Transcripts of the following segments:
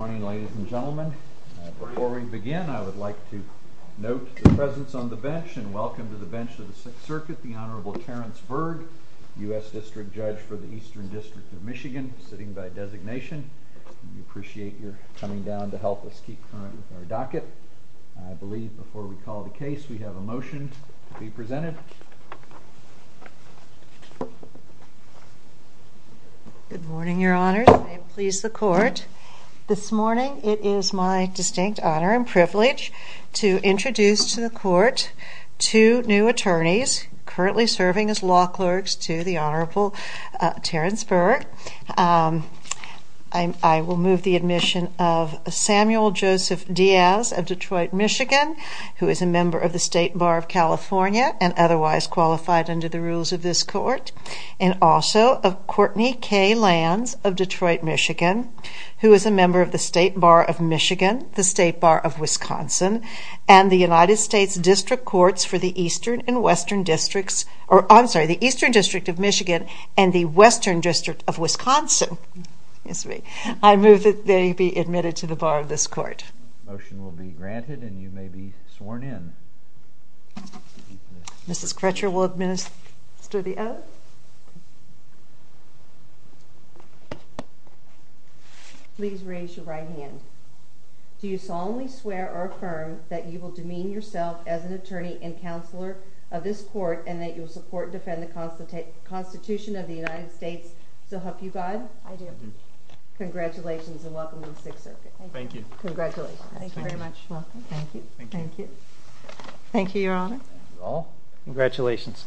Good morning, ladies and gentlemen. Before we begin, I would like to note the presence on the bench and welcome to the bench of the Sixth Circuit, the Honorable Terrence Berg, U.S. District Judge for the Eastern District of Michigan, sitting by designation. We appreciate your coming down to help us keep current with our docket. I believe before we call the case, we have a motion to be presented. Good morning, Your Honors. May it please the Court. This morning, it is my distinct honor and privilege to introduce to the Court two new attorneys currently serving as law clerks to the Honorable Terrence Berg. I will move the admission of Samuel Joseph Diaz of Detroit, Michigan, who is a member of the State Bar of California and otherwise qualified under the rules of this Court. And also of Courtney K. Lanz of Detroit, Michigan, who is a member of the State Bar of Michigan, the State Bar of Wisconsin, and the United States District Courts for the Eastern and Western Districts, I'm sorry, the Eastern District of Michigan and the Western District of Wisconsin. I move that they be admitted to the Bar of this Court. Motion will be granted and you may be sworn in. Mrs. Crutcher will administer the oath. Please raise your right hand. Do you solemnly swear or affirm that you will demean yourself as an attorney and counselor of this Court and that you will support and defend the Constitution of the United States, so help you God? I do. Congratulations and welcome to the Sixth Circuit. Thank you. Congratulations. Thank you very much. Welcome. Thank you. Thank you, Your Honor. Thank you all. Congratulations.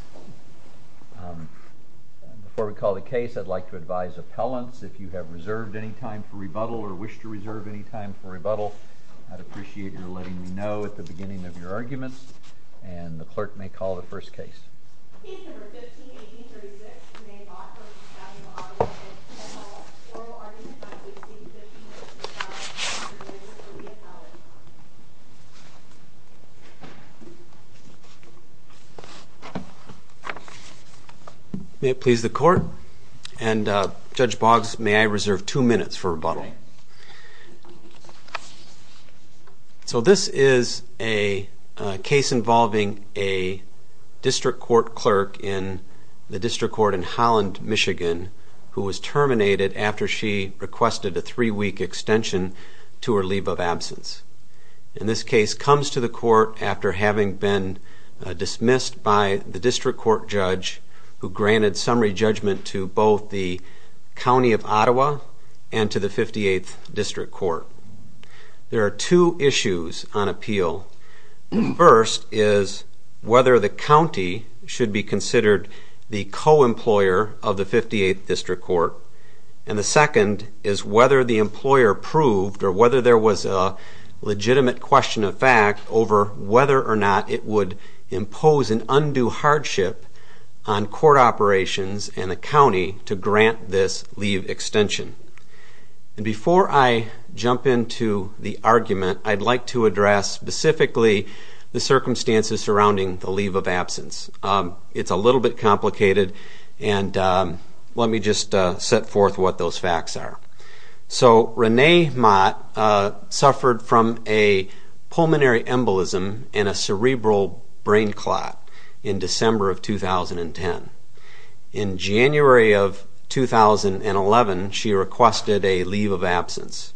Before we call the case, I'd like to advise appellants, if you have reserved any time for rebuttal or wish to reserve any time for rebuttal, I'd appreciate your letting me know at the beginning of your arguments and the clerk may call the first case. Case No. 15-1836, Maine Boggs v. County of Ogden. May it please the Court? And, Judge Boggs, may I reserve two minutes for rebuttal? You may. So this is a case involving a district court clerk in the district court in Holland, Michigan, who was terminated after she requested a three-week extension to her leave of absence. In this case, comes to the court after having been dismissed by the district court judge who granted summary judgment to both the County of Ottawa and to the 58th District Court. There are two issues on appeal. The first is whether the county should be considered the co-employer of the 58th District Court. And the second is whether the employer proved or whether there was a legitimate question of fact over whether or not it would impose an undue hardship on court operations and the county to grant this leave extension. Before I jump into the argument, I'd like to address specifically the circumstances surrounding the leave of absence. It's a little bit complicated and let me just set forth what those facts are. So, Renee Mott suffered from a pulmonary embolism and a cerebral brain clot in December of 2010. In January of 2011, she requested a leave of absence.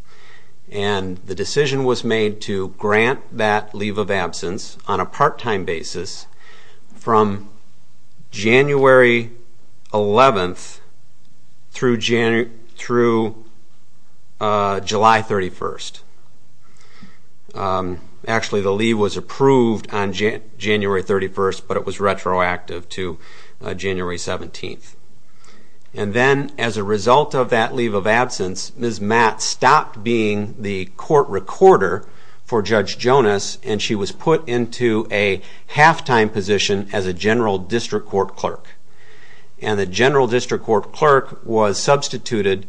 And the decision was made to grant that leave of absence on a part-time basis from January 11th through July 31st. Actually, the leave was approved on January 31st, but it was retroactive to January 17th. And then, as a result of that leave of absence, Ms. Mott stopped being the court recorder for Judge Jonas and she was put into a half-time position as a general district court clerk. And the general district court clerk was substituted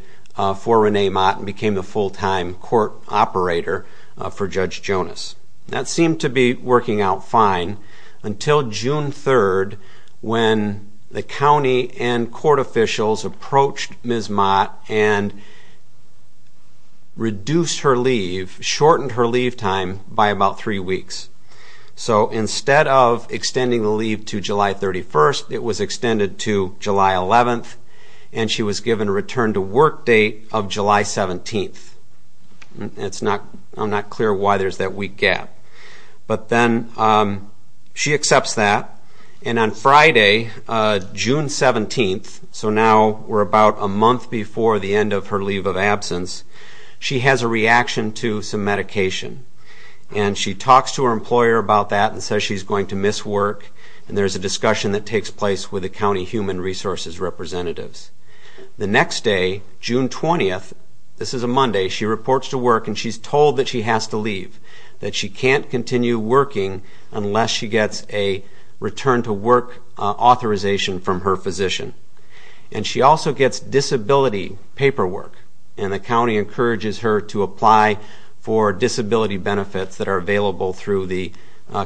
for Renee Mott and became the full-time court operator for Judge Jonas. That seemed to be working out fine until June 3rd when the county and court officials approached Ms. Mott and reduced her leave, shortened her leave time by about three weeks. So, instead of extending the leave to July 31st, it was extended to July 11th and she was given a return-to-work date of July 17th. I'm not clear why there's that week gap. But then, she accepts that and on Friday, June 17th, so now we're about a month before the end of her leave of absence, she has a reaction to some medication. And she talks to her employer about that and says she's going to miss work and there's a discussion that takes place with the county human resources representatives. The next day, June 20th, this is a Monday, she reports to work and she's told that she has to leave, that she can't continue working unless she gets a return-to-work authorization from her physician. And she also gets disability paperwork and the county encourages her to apply for disability benefits that are available through the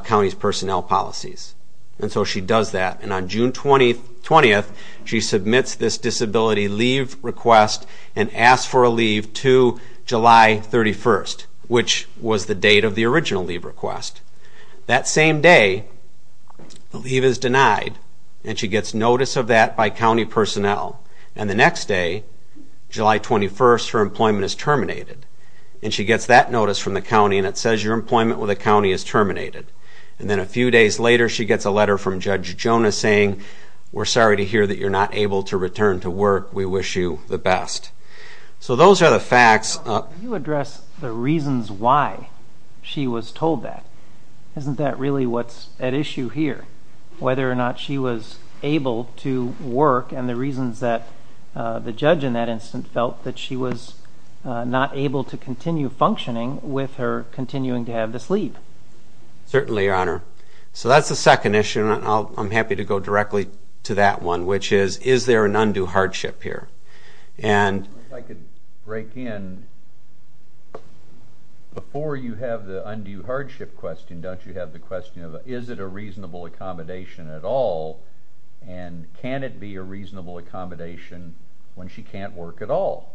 county's personnel policies. And so she does that and on June 20th, she submits this disability leave request and asks for a leave to July 31st, which was the date of the original leave request. That same day, the leave is denied and she gets notice of that by county personnel. And the next day, July 21st, her employment is terminated and she gets that notice from the county and it says your employment with the county is terminated. And then a few days later, she gets a letter from Judge Jonas saying, we're sorry to hear that you're not able to return to work, we wish you the best. So those are the facts. Can you address the reasons why she was told that? Isn't that really what's at issue here? Whether or not she was able to work and the reasons that the judge in that instance felt that she was not able to continue functioning with her continuing to have this leave. Certainly, your honor. So that's the second issue and I'm happy to go directly to that one, which is, is there an undue hardship here? If I could break in. Before you have the undue hardship question, don't you have the question of, is it a reasonable accommodation at all? And can it be a reasonable accommodation when she can't work at all?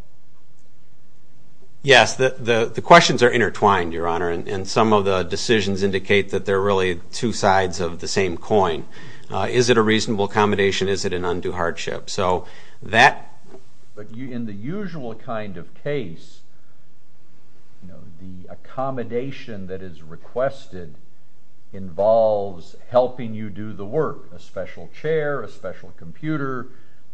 Yes, the questions are intertwined, your honor. And some of the decisions indicate that they're really two sides of the same coin. Is it a reasonable accommodation? Is it an undue hardship? In the usual kind of case, the accommodation that is requested involves helping you do the work. A special chair, a special computer,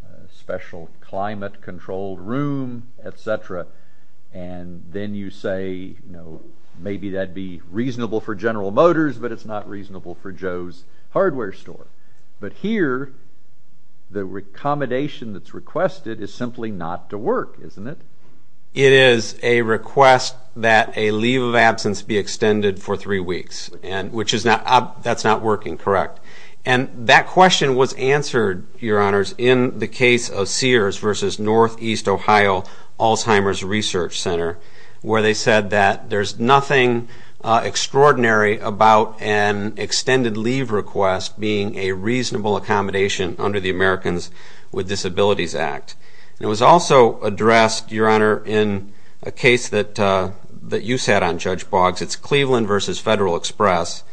a special climate-controlled room, etc. And then you say, maybe that'd be reasonable for General Motors, but it's not reasonable for Joe's hardware store. But here, the accommodation that's requested is simply not to work, isn't it? It is a request that a leave of absence be extended for three weeks, which is not, that's not working, correct. And that question was answered, your honors, in the case of Sears versus Northeast Ohio Alzheimer's Research Center, where they said that there's nothing extraordinary about an extended leave request being a reasonable accommodation under the Americans with Disabilities Act. And it was also addressed, your honor, in a case that you sat on, Judge Boggs. It's Cleveland versus Federal Express,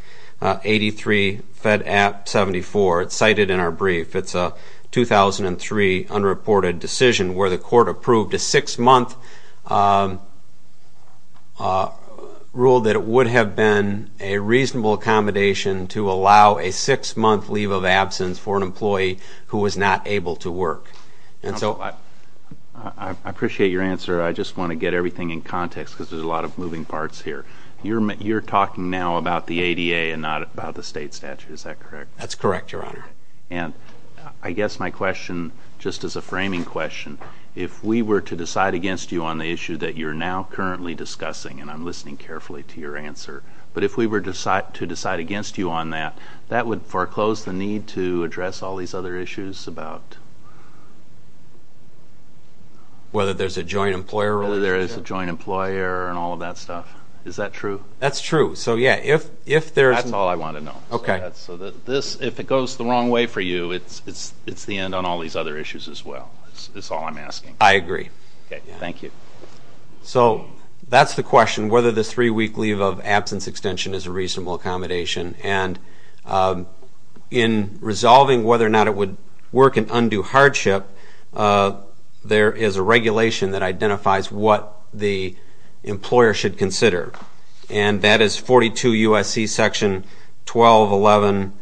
83 Fed App 74. It's cited in our brief. It's a 2003 unreported decision where the court approved a six-month rule that it would have been a reasonable accommodation to allow a six-month leave of absence for an employee who was not able to work. And so I appreciate your answer. I just want to get everything in context because there's a lot of moving parts here. You're talking now about the ADA and not about the state statute. Is that correct? That's correct, your honor. And I guess my question, just as a framing question, if we were to decide against you on the issue that you're now currently discussing, and I'm listening carefully to your answer, but if we were to decide against you on that, that would foreclose the need to address all these other issues about whether there's a joint employer and all of that stuff. Is that true? That's true. That's all I want to know. Okay. So if it goes the wrong way for you, it's the end on all these other issues as well is all I'm asking. I agree. Okay. Thank you. So that's the question, whether the three-week leave of absence extension is a reasonable accommodation. And in resolving whether or not it would work in undue hardship, there is a regulation that identifies what the employer should consider, and that is 42 U.S.C. Section 1211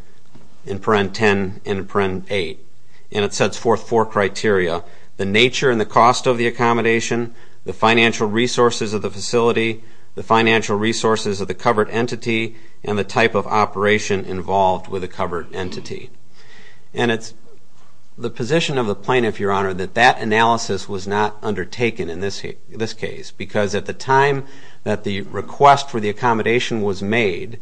and 10 and 8. And it sets forth four criteria, the nature and the cost of the accommodation, the financial resources of the facility, the financial resources of the covered entity, and the type of operation involved with the covered entity. And it's the position of the plaintiff, your honor, that that analysis was not undertaken in this case because at the time that the request for the accommodation was made,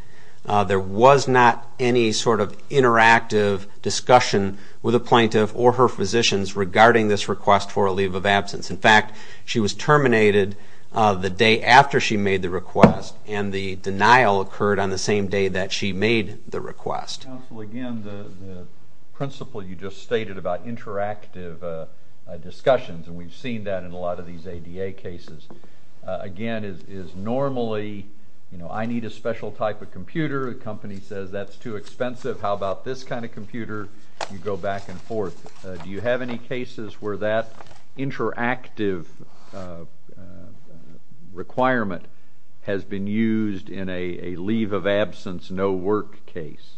there was not any sort of interactive discussion with the plaintiff or her physicians regarding this request for a leave of absence. In fact, she was terminated the day after she made the request, and the denial occurred on the same day that she made the request. Counsel, again, the principle you just stated about interactive discussions, and we've seen that in a lot of these ADA cases, again, is normally, you know, I need a special type of computer. The company says that's too expensive. How about this kind of computer? You go back and forth. Do you have any cases where that interactive requirement has been used in a leave of absence no work case?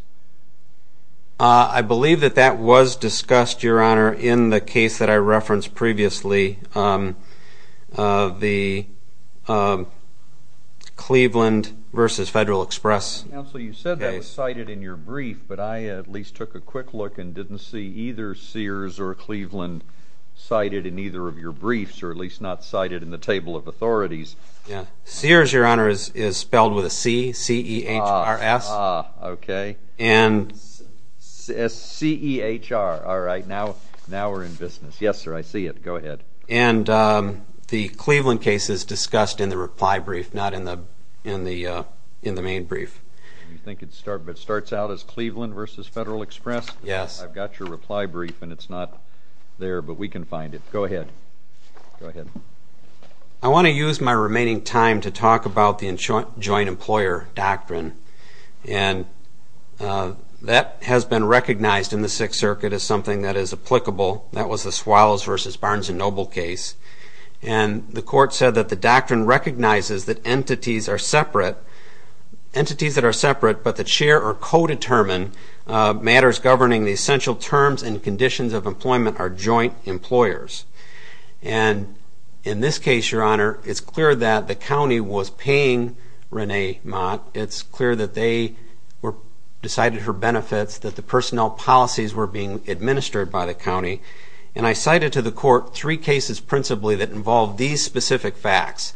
I believe that that was discussed, your honor, in the case that I referenced previously, the Cleveland versus Federal Express case. Counsel, you said that was cited in your brief, but I at least took a quick look and didn't see either Sears or Cleveland cited in either of your briefs, or at least not cited in the table of authorities. Sears, your honor, is spelled with a C, C-E-H-R-S. Ah, okay. C-E-H-R. All right. Now we're in business. Yes, sir, I see it. Go ahead. And the Cleveland case is discussed in the reply brief, not in the main brief. You think it starts out as Cleveland versus Federal Express? Yes. I've got your reply brief, and it's not there, but we can find it. Go ahead. Go ahead. I want to use my remaining time to talk about the joint employer doctrine, and that has been recognized in the Sixth Circuit as something that is applicable. That was the Swallows versus Barnes and Noble case, and the court said that the doctrine recognizes that entities that are separate but that share or co-determine matters governing the essential terms and conditions of employment are joint employers. And in this case, your honor, it's clear that the county was paying Renee Mott. It's clear that they decided her benefits, that the personnel policies were being administered by the county, and I cited to the court three cases principally that involved these specific facts.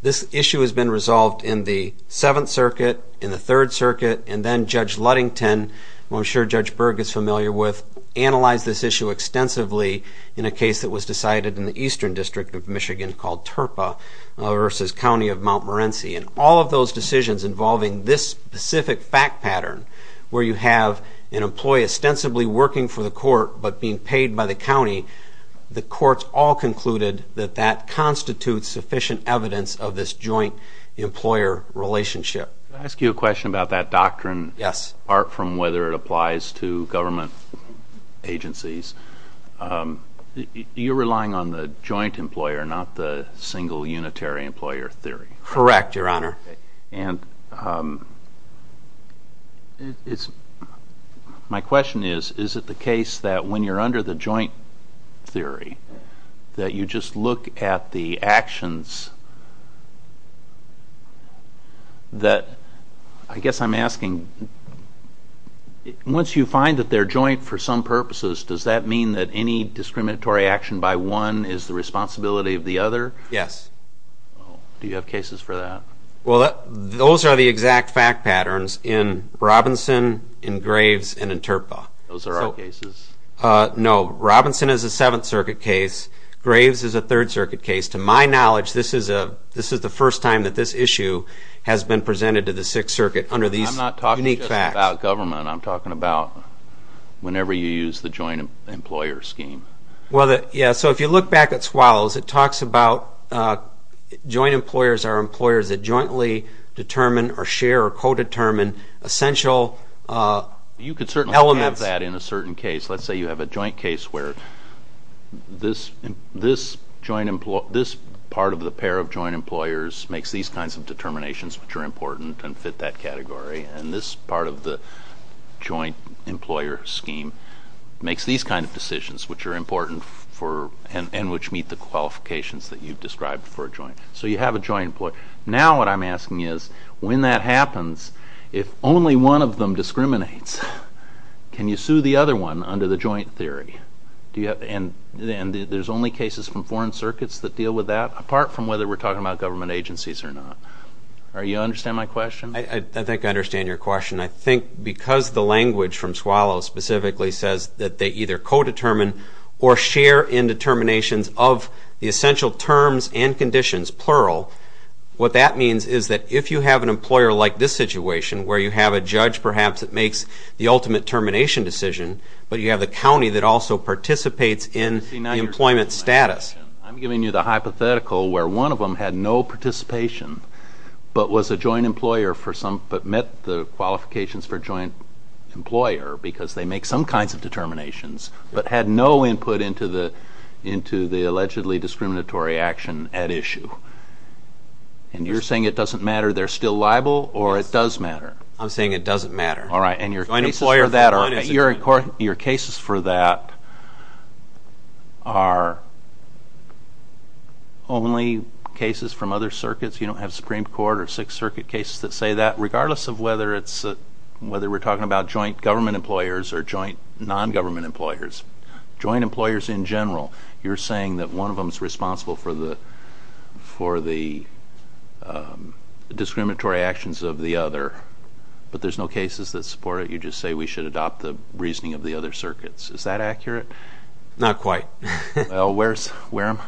This issue has been resolved in the Seventh Circuit, in the Third Circuit, and then Judge Ludington, who I'm sure Judge Berg is familiar with, analyzed this issue extensively in a case that was decided in the Eastern District of Michigan called Terpa versus County of Mount Morenci, and all of those decisions involving this specific fact pattern where you have an employee ostensibly working for the court but being paid by the county, the courts all concluded that that constitutes sufficient evidence of this joint employer relationship. Can I ask you a question about that doctrine? Yes. Apart from whether it applies to government agencies, you're relying on the joint employer, not the single unitary employer theory. Correct, your honor. My question is, is it the case that when you're under the joint theory that you just look at the actions that, I guess I'm asking, once you find that they're joint for some purposes, does that mean that any discriminatory action by one is the responsibility of the other? Yes. Do you have cases for that? Well, those are the exact fact patterns in Robinson, in Graves, and in Terpa. Those are our cases. No, Robinson is a Seventh Circuit case. Graves is a Third Circuit case. To my knowledge, this is the first time that this issue has been presented to the Sixth Circuit under these unique facts. I'm not talking just about government. I'm talking about whenever you use the joint employer scheme. Yeah, so if you look back at Swallows, it talks about joint employers are employers that jointly determine or share or co-determine essential elements. You could certainly have that in a certain case. Let's say you have a joint case where this part of the pair of joint employers makes these kinds of determinations which are important and fit that category, and this part of the joint employer scheme makes these kinds of decisions which are important and which meet the qualifications that you've described for a joint. So you have a joint employer. Now what I'm asking is when that happens, if only one of them discriminates, can you sue the other one under the joint theory? And there's only cases from foreign circuits that deal with that, apart from whether we're talking about government agencies or not. Do you understand my question? I think I understand your question. I think because the language from Swallows specifically says that they either co-determine or share in determinations of the essential terms and conditions, plural, what that means is that if you have an employer like this situation where you have a judge perhaps that makes the ultimate termination decision, but you have the county that also participates in employment status. I'm giving you the hypothetical where one of them had no participation but was a joint employer but met the qualifications for joint employer because they make some kinds of determinations but had no input into the allegedly discriminatory action at issue. And you're saying it doesn't matter they're still liable or it does matter? I'm saying it doesn't matter. All right, and your cases for that are only cases from other circuits. You don't have Supreme Court or Sixth Circuit cases that say that. Regardless of whether we're talking about joint government employers or joint non-government employers, joint employers in general, you're saying that one of them is responsible for the discriminatory actions of the other, but there's no cases that support it. You just say we should adopt the reasoning of the other circuits. Is that accurate? Not quite. Well, where am I?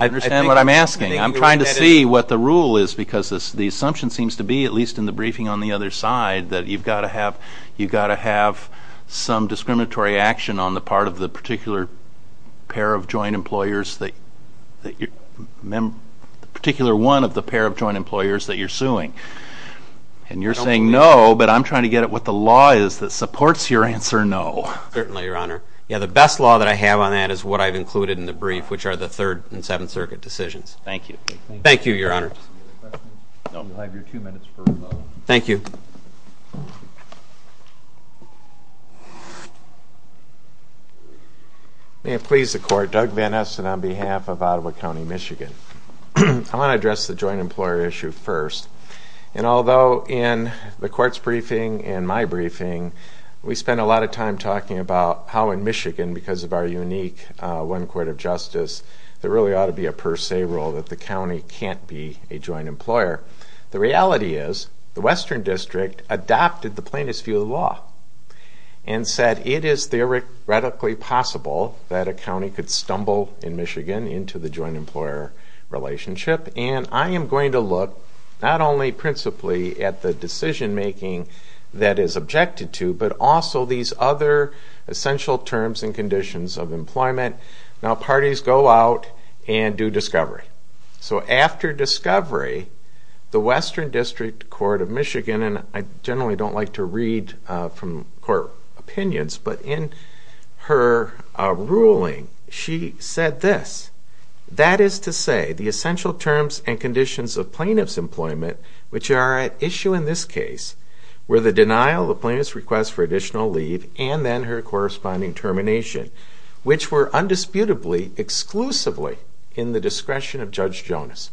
I understand what I'm asking. I'm trying to see what the rule is because the assumption seems to be, at least in the briefing on the other side, that you've got to have some discriminatory action on the part of the particular one of the pair of joint employers that you're suing. And you're saying no, but I'm trying to get at what the law is that supports your answer no. Certainly, Your Honor. The best law that I have on that is what I've included in the brief, which are the Third and Seventh Circuit decisions. Thank you. Thank you, Your Honor. Any other questions? No. You'll have your two minutes for a moment. Thank you. May it please the Court, Doug Van Esten on behalf of Ottawa County, Michigan. I want to address the joint employer issue first. we spend a lot of time talking about how in Michigan, because of our unique one court of justice, there really ought to be a per se rule that the county can't be a joint employer. The reality is the Western District adopted the plaintiff's view of the law and said it is theoretically possible that a county could stumble in Michigan into the joint employer relationship. And I am going to look not only principally at the decision making that is objected to, but also these other essential terms and conditions of employment. Now, parties go out and do discovery. So after discovery, the Western District Court of Michigan, and I generally don't like to read from court opinions, but in her ruling she said this, that is to say the essential terms and conditions of plaintiff's employment, which are at issue in this case, were the denial of the plaintiff's request for additional leave and then her corresponding termination, which were undisputably exclusively in the discretion of Judge Jonas.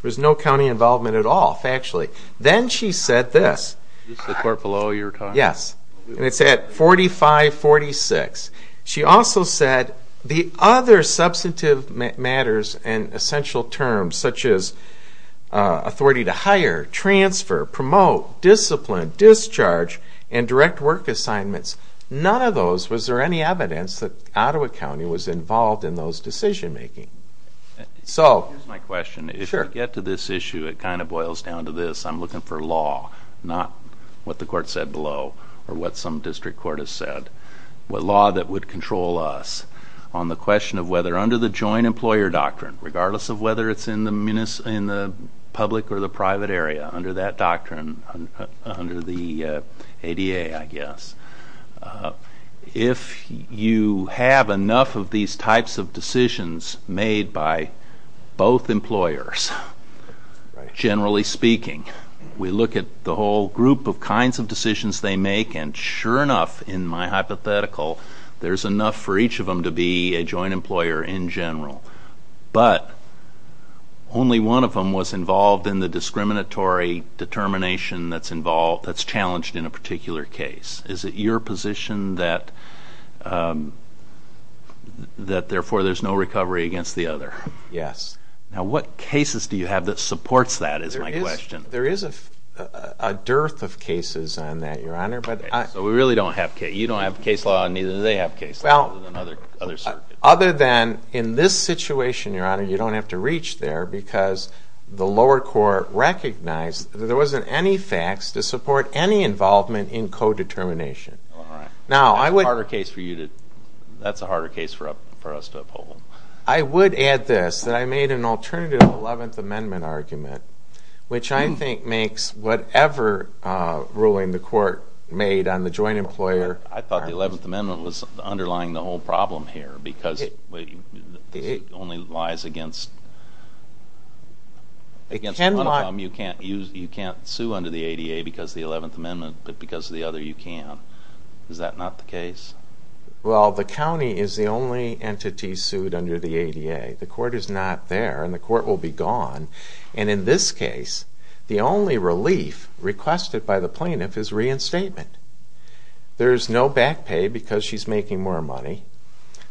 There was no county involvement at all, factually. Then she said this. Is this the court below you were talking about? Yes, and it's at 4546. She also said the other substantive matters and essential terms, such as authority to hire, transfer, promote, discipline, discharge, and direct work assignments. None of those, was there any evidence that Ottawa County was involved in those decision making? Here's my question. If you get to this issue, it kind of boils down to this. I'm looking for law, not what the court said below or what some district court has said. Law that would control us on the question of whether or under the joint employer doctrine, regardless of whether it's in the public or the private area, under that doctrine, under the ADA, I guess. If you have enough of these types of decisions made by both employers, generally speaking, we look at the whole group of kinds of decisions they make, and sure enough, in my hypothetical, there's enough for each of them to be a joint employer in general. But only one of them was involved in the discriminatory determination that's challenged in a particular case. Is it your position that, therefore, there's no recovery against the other? Yes. Now, what cases do you have that supports that, is my question. There is a dearth of cases on that, Your Honor. So you don't have case law, and neither do they have case law, other than other circuits. Other than in this situation, Your Honor, you don't have to reach there because the lower court recognized that there wasn't any facts to support any involvement in co-determination. That's a harder case for us to uphold. I would add this, that I made an alternative Eleventh Amendment argument, which I think makes whatever ruling the court made on the joint employer. I thought the Eleventh Amendment was underlying the whole problem here because it only lies against one of them. You can't sue under the ADA because of the Eleventh Amendment, but because of the other, you can. Is that not the case? Well, the county is the only entity sued under the ADA. The court is not there, and the court will be gone. And in this case, the only relief requested by the plaintiff is reinstatement. There is no back pay because she's making more money.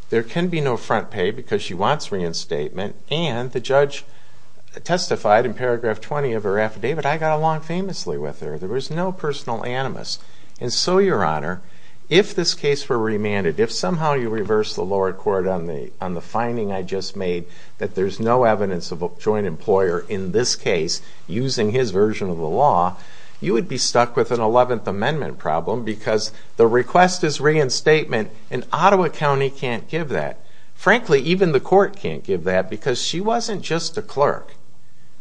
There can be no front pay because she wants reinstatement. And the judge testified in paragraph 20 of her affidavit, I got along famously with her. There was no personal animus. And so, Your Honor, if this case were remanded, if somehow you reverse the lower court on the finding I just made that there's no evidence of a joint employer in this case using his version of the law, you would be stuck with an Eleventh Amendment problem because the request is reinstatement, and Ottawa County can't give that. Frankly, even the court can't give that because she wasn't just a clerk.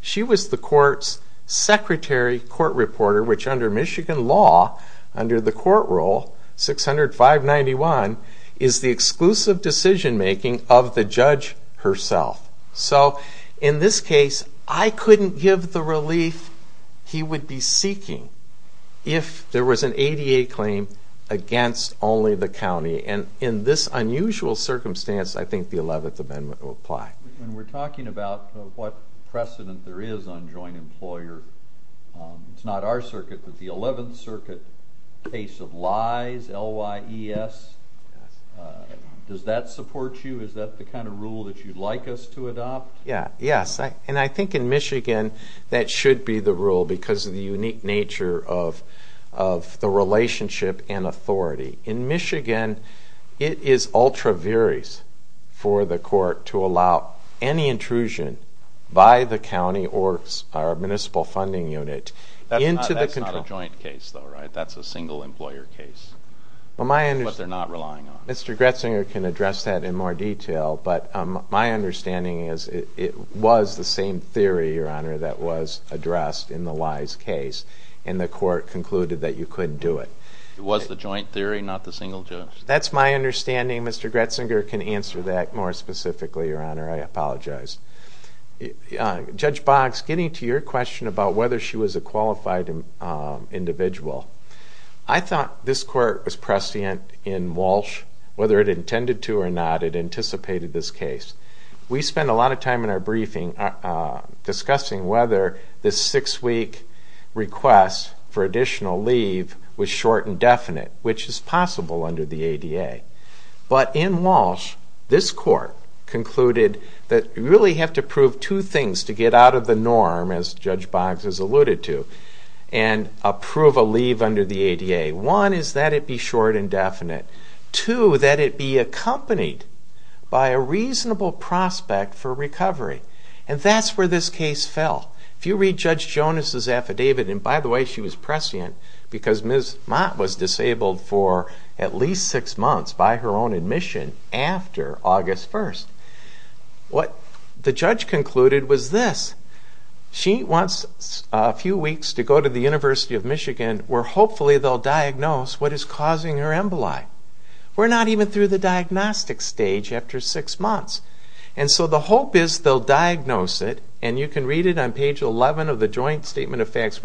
She was the court's secretary court reporter, which under Michigan law, under the court rule, 600-591 is the exclusive decision-making of the judge herself. So in this case, I couldn't give the relief he would be seeking if there was an ADA claim against only the county. And in this unusual circumstance, I think the Eleventh Amendment will apply. When we're talking about what precedent there is on joint employer, it's not our circuit, but the Eleventh Circuit case of lies, L-Y-E-S, does that support you? Is that the kind of rule that you'd like us to adopt? Yes, and I think in Michigan that should be the rule because of the unique nature of the relationship and authority. In Michigan, it is ultra-various for the court to allow any intrusion by the county or our municipal funding unit into the control. That's not a joint case, though, right? That's a single-employer case, what they're not relying on. Mr. Gretzinger can address that in more detail, but my understanding is it was the same theory, Your Honor, that was addressed in the lies case, and the court concluded that you couldn't do it. It was the joint theory, not the single judge? That's my understanding. Mr. Gretzinger can answer that more specifically, Your Honor. I apologize. Judge Boggs, getting to your question about whether she was a qualified individual, I thought this court was prescient in Walsh. Whether it intended to or not, it anticipated this case. We spend a lot of time in our briefing discussing whether this six-week request for additional leave was short and definite, which is possible under the ADA. But in Walsh, this court concluded that you really have to prove two things to get out of the norm, as Judge Boggs has alluded to, and approve a leave under the ADA. One is that it be short and definite. Two, that it be accompanied by a reasonable prospect for recovery. And that's where this case fell. If you read Judge Jonas' affidavit, and by the way, she was prescient because Ms. Mott was disabled for at least six months by her own admission after August 1st. What the judge concluded was this. She wants a few weeks to go to the University of Michigan where hopefully they'll diagnose what is causing her emboli. We're not even through the diagnostic stage after six months. And so the hope is they'll diagnose it, where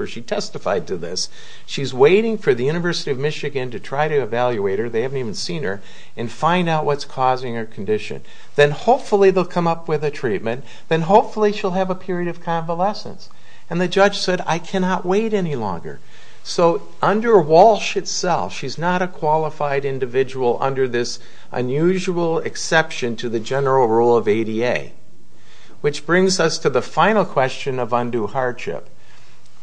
she testified to this. She's waiting for the University of Michigan to try to evaluate her, they haven't even seen her, and find out what's causing her condition. Then hopefully they'll come up with a treatment, then hopefully she'll have a period of convalescence. And the judge said, I cannot wait any longer. So under Walsh itself, she's not a qualified individual under this unusual exception to the general rule of ADA. Which brings us to the final question of undue hardship.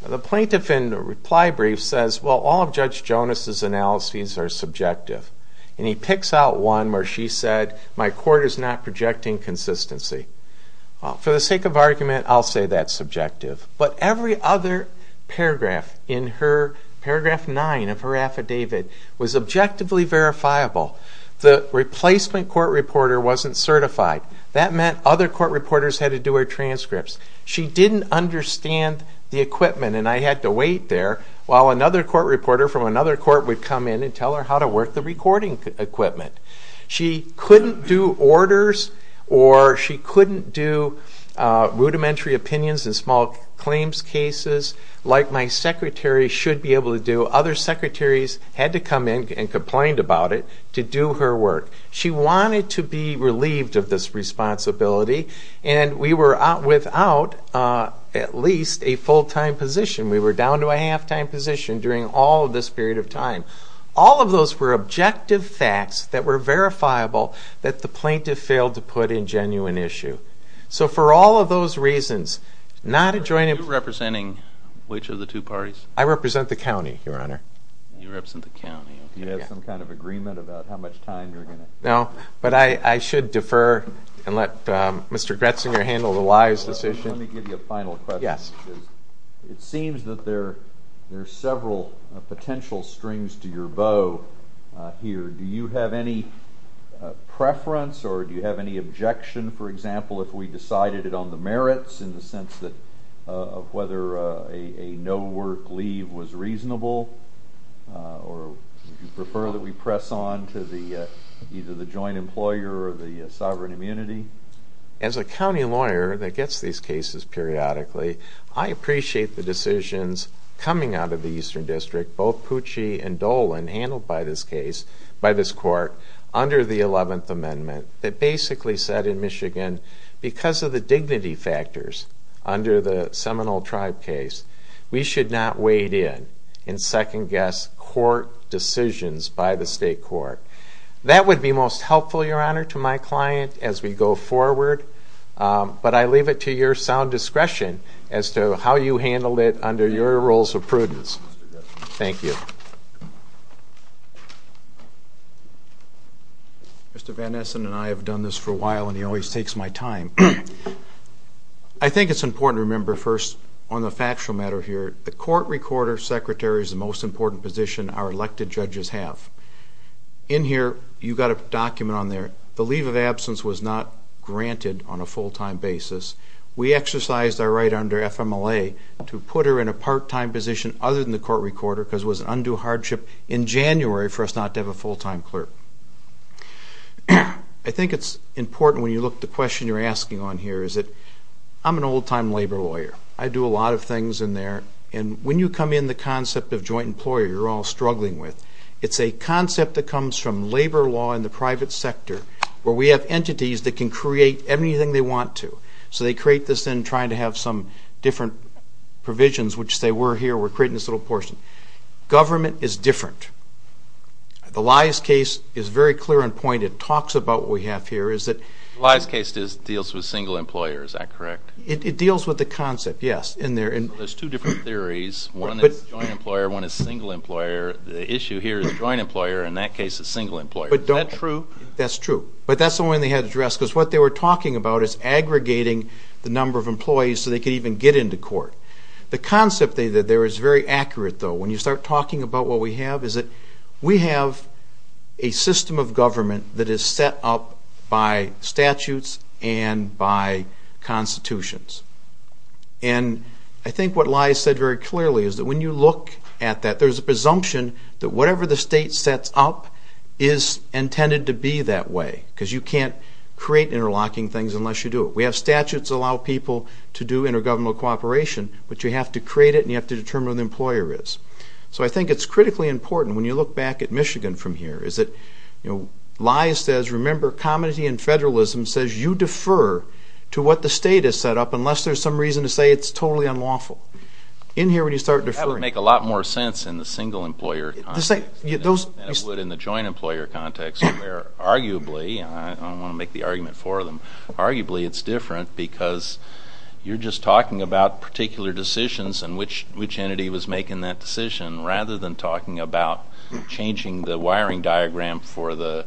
The plaintiff in the reply brief says, well, all of Judge Jonas' analyses are subjective. And he picks out one where she said, my court is not projecting consistency. For the sake of argument, I'll say that's subjective. But every other paragraph in paragraph 9 of her affidavit was objectively verifiable. The replacement court reporter wasn't certified. That meant other court reporters had to do her transcripts. She didn't understand the equipment, and I had to wait there while another court reporter from another court would come in and tell her how to work the recording equipment. She couldn't do orders, or she couldn't do rudimentary opinions in small claims cases, like my secretary should be able to do. Other secretaries had to come in and complained about it to do her work. She wanted to be relieved of this responsibility, and we were without at least a full-time position. We were down to a half-time position during all of this period of time. All of those were objective facts that were verifiable that the plaintiff failed to put in genuine issue. So for all of those reasons, not adjoining... Are you representing which of the two parties? I represent the county, Your Honor. You represent the county. Do you have some kind of agreement about how much time you're going to... No, but I should defer and let Mr. Gretzinger handle the lies decision. Let me give you a final question. It seems that there are several potential strings to your bow here. Do you have any preference, or do you have any objection, for example, if we decided it on the merits, in the sense of whether a no-work leave was reasonable or if you prefer that we press on to either the joint employer or the sovereign immunity? As a county lawyer that gets these cases periodically, I appreciate the decisions coming out of the Eastern District, both Pucci and Dolan, handled by this court under the 11th Amendment that basically said in Michigan, because of the dignity factors under the Seminole Tribe case, we should not wade in and second-guess court decisions by the state court. That would be most helpful, Your Honor, to my client as we go forward, but I leave it to your sound discretion as to how you handled it under your rules of prudence. Thank you. Mr. Van Essen and I have done this for a while, and he always takes my time. I think it's important to remember, first, on the factual matter here, the court recorder secretary is the most important position our elected judges have. In here, you've got a document on there, the leave of absence was not granted on a full-time basis. We exercised our right under FMLA to put her in a part-time position other than the court recorder because it was an undue hardship in January for us not to have a full-time clerk. I think it's important when you look at the question you're asking on here, is that I'm an old-time labor lawyer. I do a lot of things in there, and when you come in the concept of joint employer you're all struggling with, it's a concept that comes from labor law in the private sector where we have entities that can create anything they want to. So they create this then trying to have some different provisions, which say we're here, we're creating this little portion. Government is different. The Lies case is very clear in point. It talks about what we have here. The Lies case deals with single employers, is that correct? It deals with the concept, yes. There's two different theories. One is joint employer, one is single employer. The issue here is joint employer. In that case, it's single employer. Is that true? That's true. But that's the one they had addressed because what they were talking about is aggregating the number of employees so they could even get into court. The concept there is very accurate, though. When you start talking about what we have is that we have a system of government that is set up by statutes and by constitutions. And I think what Lies said very clearly is that when you look at that, there's a presumption that whatever the state sets up is intended to be that way because you can't create interlocking things unless you do it. We have statutes that allow people to do intergovernmental cooperation, but you have to create it and you have to determine who the employer is. So I think it's critically important, when you look back at Michigan from here, is that Lies says, remember, comity and federalism says you defer to what the state has set up unless there's some reason to say it's totally unlawful. In here, when you start deferring. That would make a lot more sense in the single employer context than it would in the joint employer context, where arguably, and I don't want to make the argument for them, but arguably it's different because you're just talking about particular decisions and which entity was making that decision rather than talking about changing the wiring diagram for the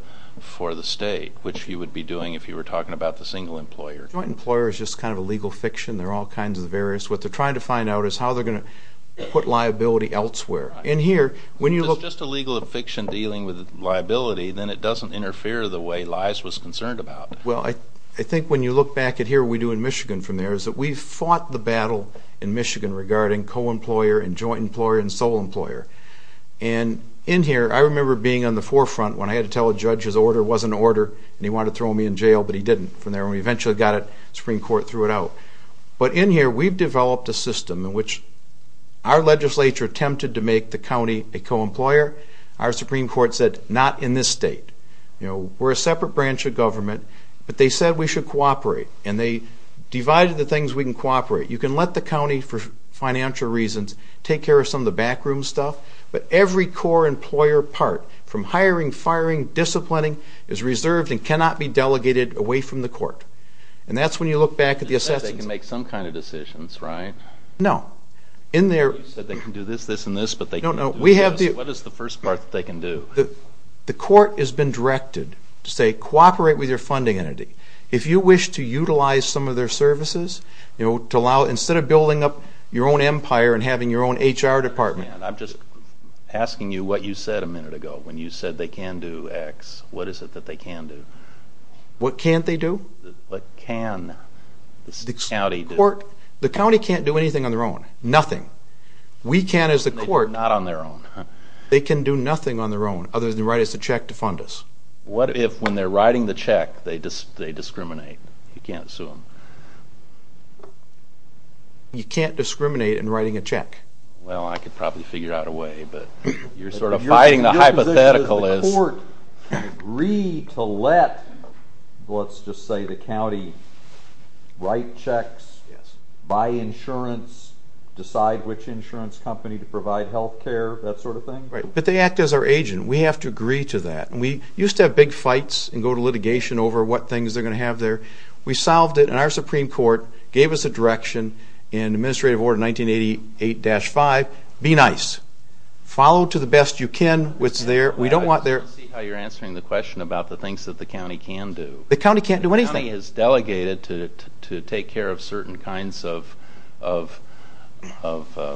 state, which you would be doing if you were talking about the single employer. The joint employer is just kind of a legal fiction. There are all kinds of various. What they're trying to find out is how they're going to put liability elsewhere. In here, when you look... If it's just a legal fiction dealing with liability, then it doesn't interfere the way Lies was concerned about it. Well, I think when you look back at here, what we do in Michigan from there, is that we've fought the battle in Michigan regarding co-employer and joint employer and sole employer. And in here, I remember being on the forefront when I had to tell a judge his order wasn't an order and he wanted to throw me in jail, but he didn't. From there, when we eventually got it, the Supreme Court threw it out. But in here, we've developed a system in which our legislature attempted to make the county a co-employer. Our Supreme Court said, not in this state. We're a separate branch of government, but they said we should cooperate. And they divided the things we can cooperate. You can let the county, for financial reasons, take care of some of the backroom stuff, but every core employer part, from hiring, firing, disciplining, is reserved and cannot be delegated away from the court. And that's when you look back at the assessment... They can make some kind of decisions, right? No. You said they can do this, this, and this, but they can't do this. What is the first part that they can do? The court has been directed to say, cooperate with your funding entity. If you wish to utilize some of their services, instead of building up your own empire and having your own HR department... I'm just asking you what you said a minute ago when you said they can do X. What is it that they can do? What can't they do? What can the county do? The county can't do anything on their own. Nothing. We can, as the court... Not on their own. They can do nothing on their own, other than write us a check to fund us. What if, when they're writing the check, they discriminate? You can't sue them. You can't discriminate in writing a check. Well, I could probably figure out a way, but you're sort of fighting the hypothetical. The court can agree to let, let's just say the county, write checks, buy insurance, decide which insurance company to provide health care. That sort of thing. But they act as our agent. We have to agree to that. We used to have big fights and go to litigation over what things they're going to have there. We solved it, and our Supreme Court gave us a direction in Administrative Order 1988-5. Be nice. Follow to the best you can what's there. We don't want their... I see how you're answering the question about the things that the county can do. The county can't do anything. The county is delegated to take care of certain kinds of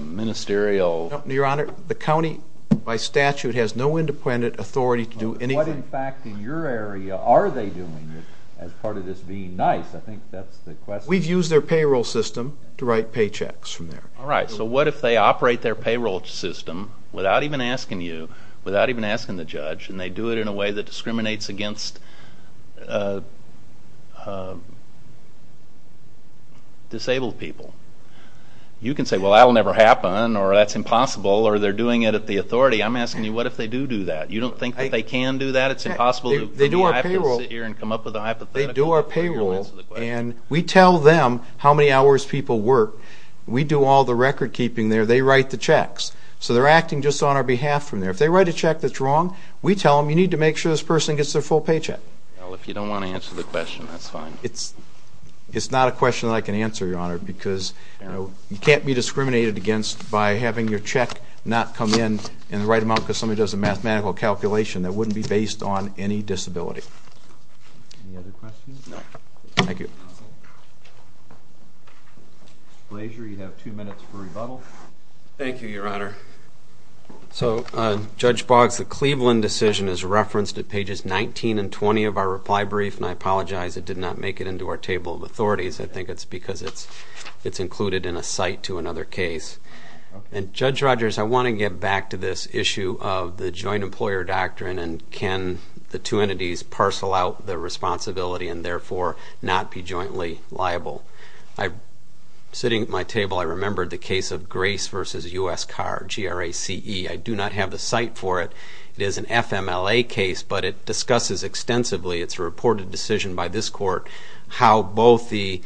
ministerial... Your Honor, the county, by statute, has no independent authority to do anything. What, in fact, in your area are they doing as part of this being nice? I think that's the question. We've used their payroll system to write paychecks from there. All right, so what if they operate their payroll system without even asking you, without even asking the judge, and they do it in a way that discriminates against disabled people? You can say, well, that'll never happen, or that's impossible, or they're doing it at the authority. I'm asking you, what if they do do that? You don't think that they can do that? It's impossible to come here and come up with a hypothetical? They do our payroll, and we tell them how many hours people work. We do all the recordkeeping there. They write the checks. So they're acting just on our behalf from there. If they write a check that's wrong, we tell them, you need to make sure this person gets their full paycheck. Well, if you don't want to answer the question, that's fine. It's not a question that I can answer, Your Honor, because you can't be discriminated against by having your check not come in in the right amount because somebody does a mathematical calculation that wouldn't be based on any disability. Any other questions? No. Thank you. Mr. Blaser, you have two minutes for rebuttal. Thank you, Your Honor. So, Judge Boggs, the Cleveland decision is referenced at pages 19 and 20 of our reply brief, and I apologize it did not make it into our table of authorities. I think it's because it's included in a cite to another case. And, Judge Rogers, I want to get back to this issue of the joint employer doctrine and can the two entities parcel out the responsibility and therefore not be jointly liable. Sitting at my table, I remembered the case of Grace v. U.S. Carr, G-R-A-C-E. I do not have the cite for it. It is an FMLA case, but it discusses extensively, it's a reported decision by this court, how both the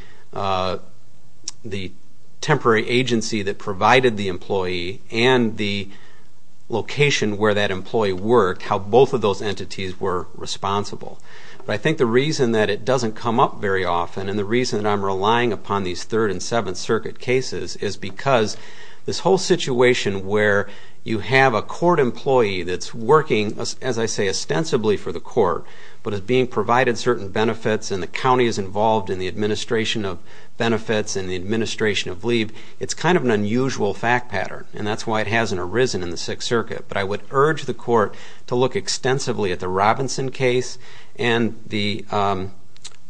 temporary agency that provided the employee and the location where that employee worked, how both of those entities were responsible. But I think the reason that it doesn't come up very often and the reason I'm relying upon these Third and Seventh Circuit cases is because this whole situation where you have a court employee that's working, as I say, ostensibly for the court but is being provided certain benefits and the county is involved in the administration of benefits and the administration of leave, it's kind of an unusual fact pattern and that's why it hasn't arisen in the Sixth Circuit. But I would urge the court to look extensively at the Robinson case and the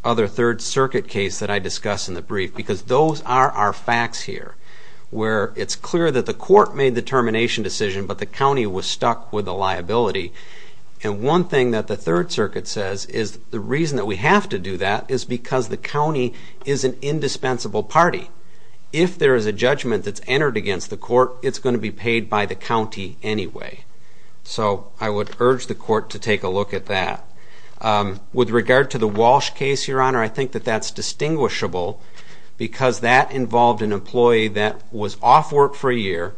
other Third Circuit case that I discussed in the brief because those are our facts here where it's clear that the court made the termination decision but the county was stuck with the liability. And one thing that the Third Circuit says is the reason that we have to do that is because the county is an indispensable party. If there is a judgment that's entered against the court, it's going to be paid by the county anyway. So I would urge the court to take a look at that. With regard to the Walsh case, Your Honor, I think that that's distinguishable because that involved an employee that was off work for a year,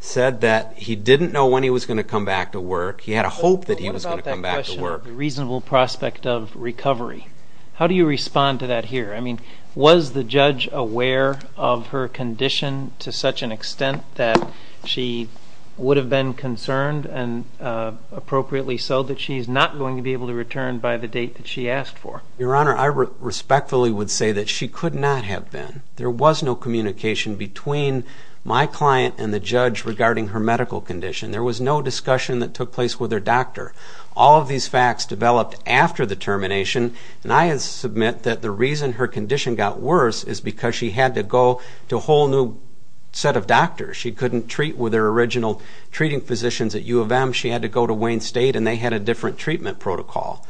said that he didn't know when he was going to come back to work, he had a hope that he was going to come back to work. What about that question of the reasonable prospect of recovery? How do you respond to that here? I mean, was the judge aware of her condition to such an extent that she would have been concerned and appropriately so that she's not going to be able to return by the date that she asked for? Your Honor, I respectfully would say that she could not have been. There was no communication between my client and the judge regarding her medical condition. There was no discussion that took place with her doctor. All of these facts developed after the termination, and I submit that the reason her condition got worse is because she had to go to a whole new set of doctors. She couldn't treat with her original treating physicians at U of M. She had to go to Wayne State, and they had a different treatment protocol.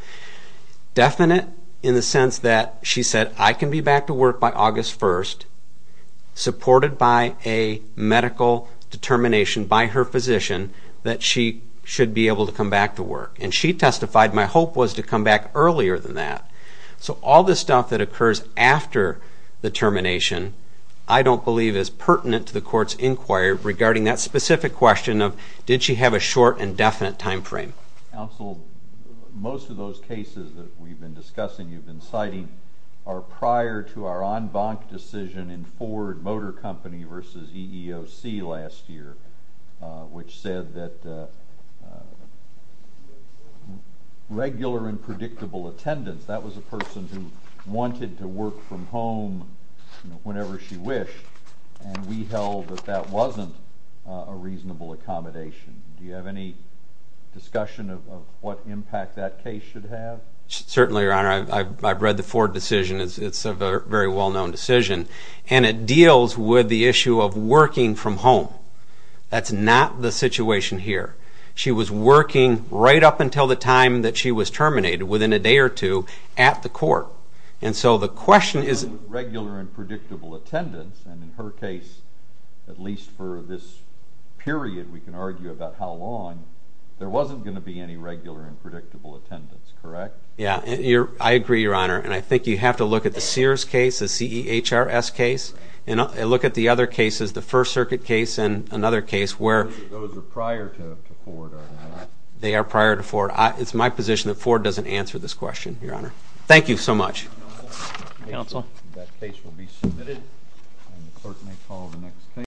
Definite in the sense that she said, I can be back to work by August 1st, supported by a medical determination by her physician that she should be able to come back to work. And she testified, my hope was to come back earlier than that. So all this stuff that occurs after the termination I don't believe is pertinent to the court's inquiry regarding that specific question of, did she have a short and definite time frame? Counsel, most of those cases that we've been discussing, you've been citing, are prior to our en banc decision in Ford Motor Company versus EEOC last year, which said that regular and predictable attendance, that was a person who wanted to work from home whenever she wished, and we held that that wasn't a reasonable accommodation. Do you have any discussion of what impact that case should have? Certainly, Your Honor. I've read the Ford decision. It's a very well-known decision, and it deals with the issue of working from home. That's not the situation here. She was working right up until the time that she was terminated, within a day or two, at the court. And so the question is... Regular and predictable attendance, and in her case, at least for this period we can argue about how long, there wasn't going to be any regular and predictable attendance, correct? Yeah, I agree, Your Honor. And I think you have to look at the Sears case, the CEHRS case, and look at the other cases, the First Circuit case and another case where... Those are prior to Ford, aren't they? They are prior to Ford. It's my position that Ford doesn't answer this question, Your Honor. Thank you so much. Counsel. That case will be submitted, and the court may call the next case.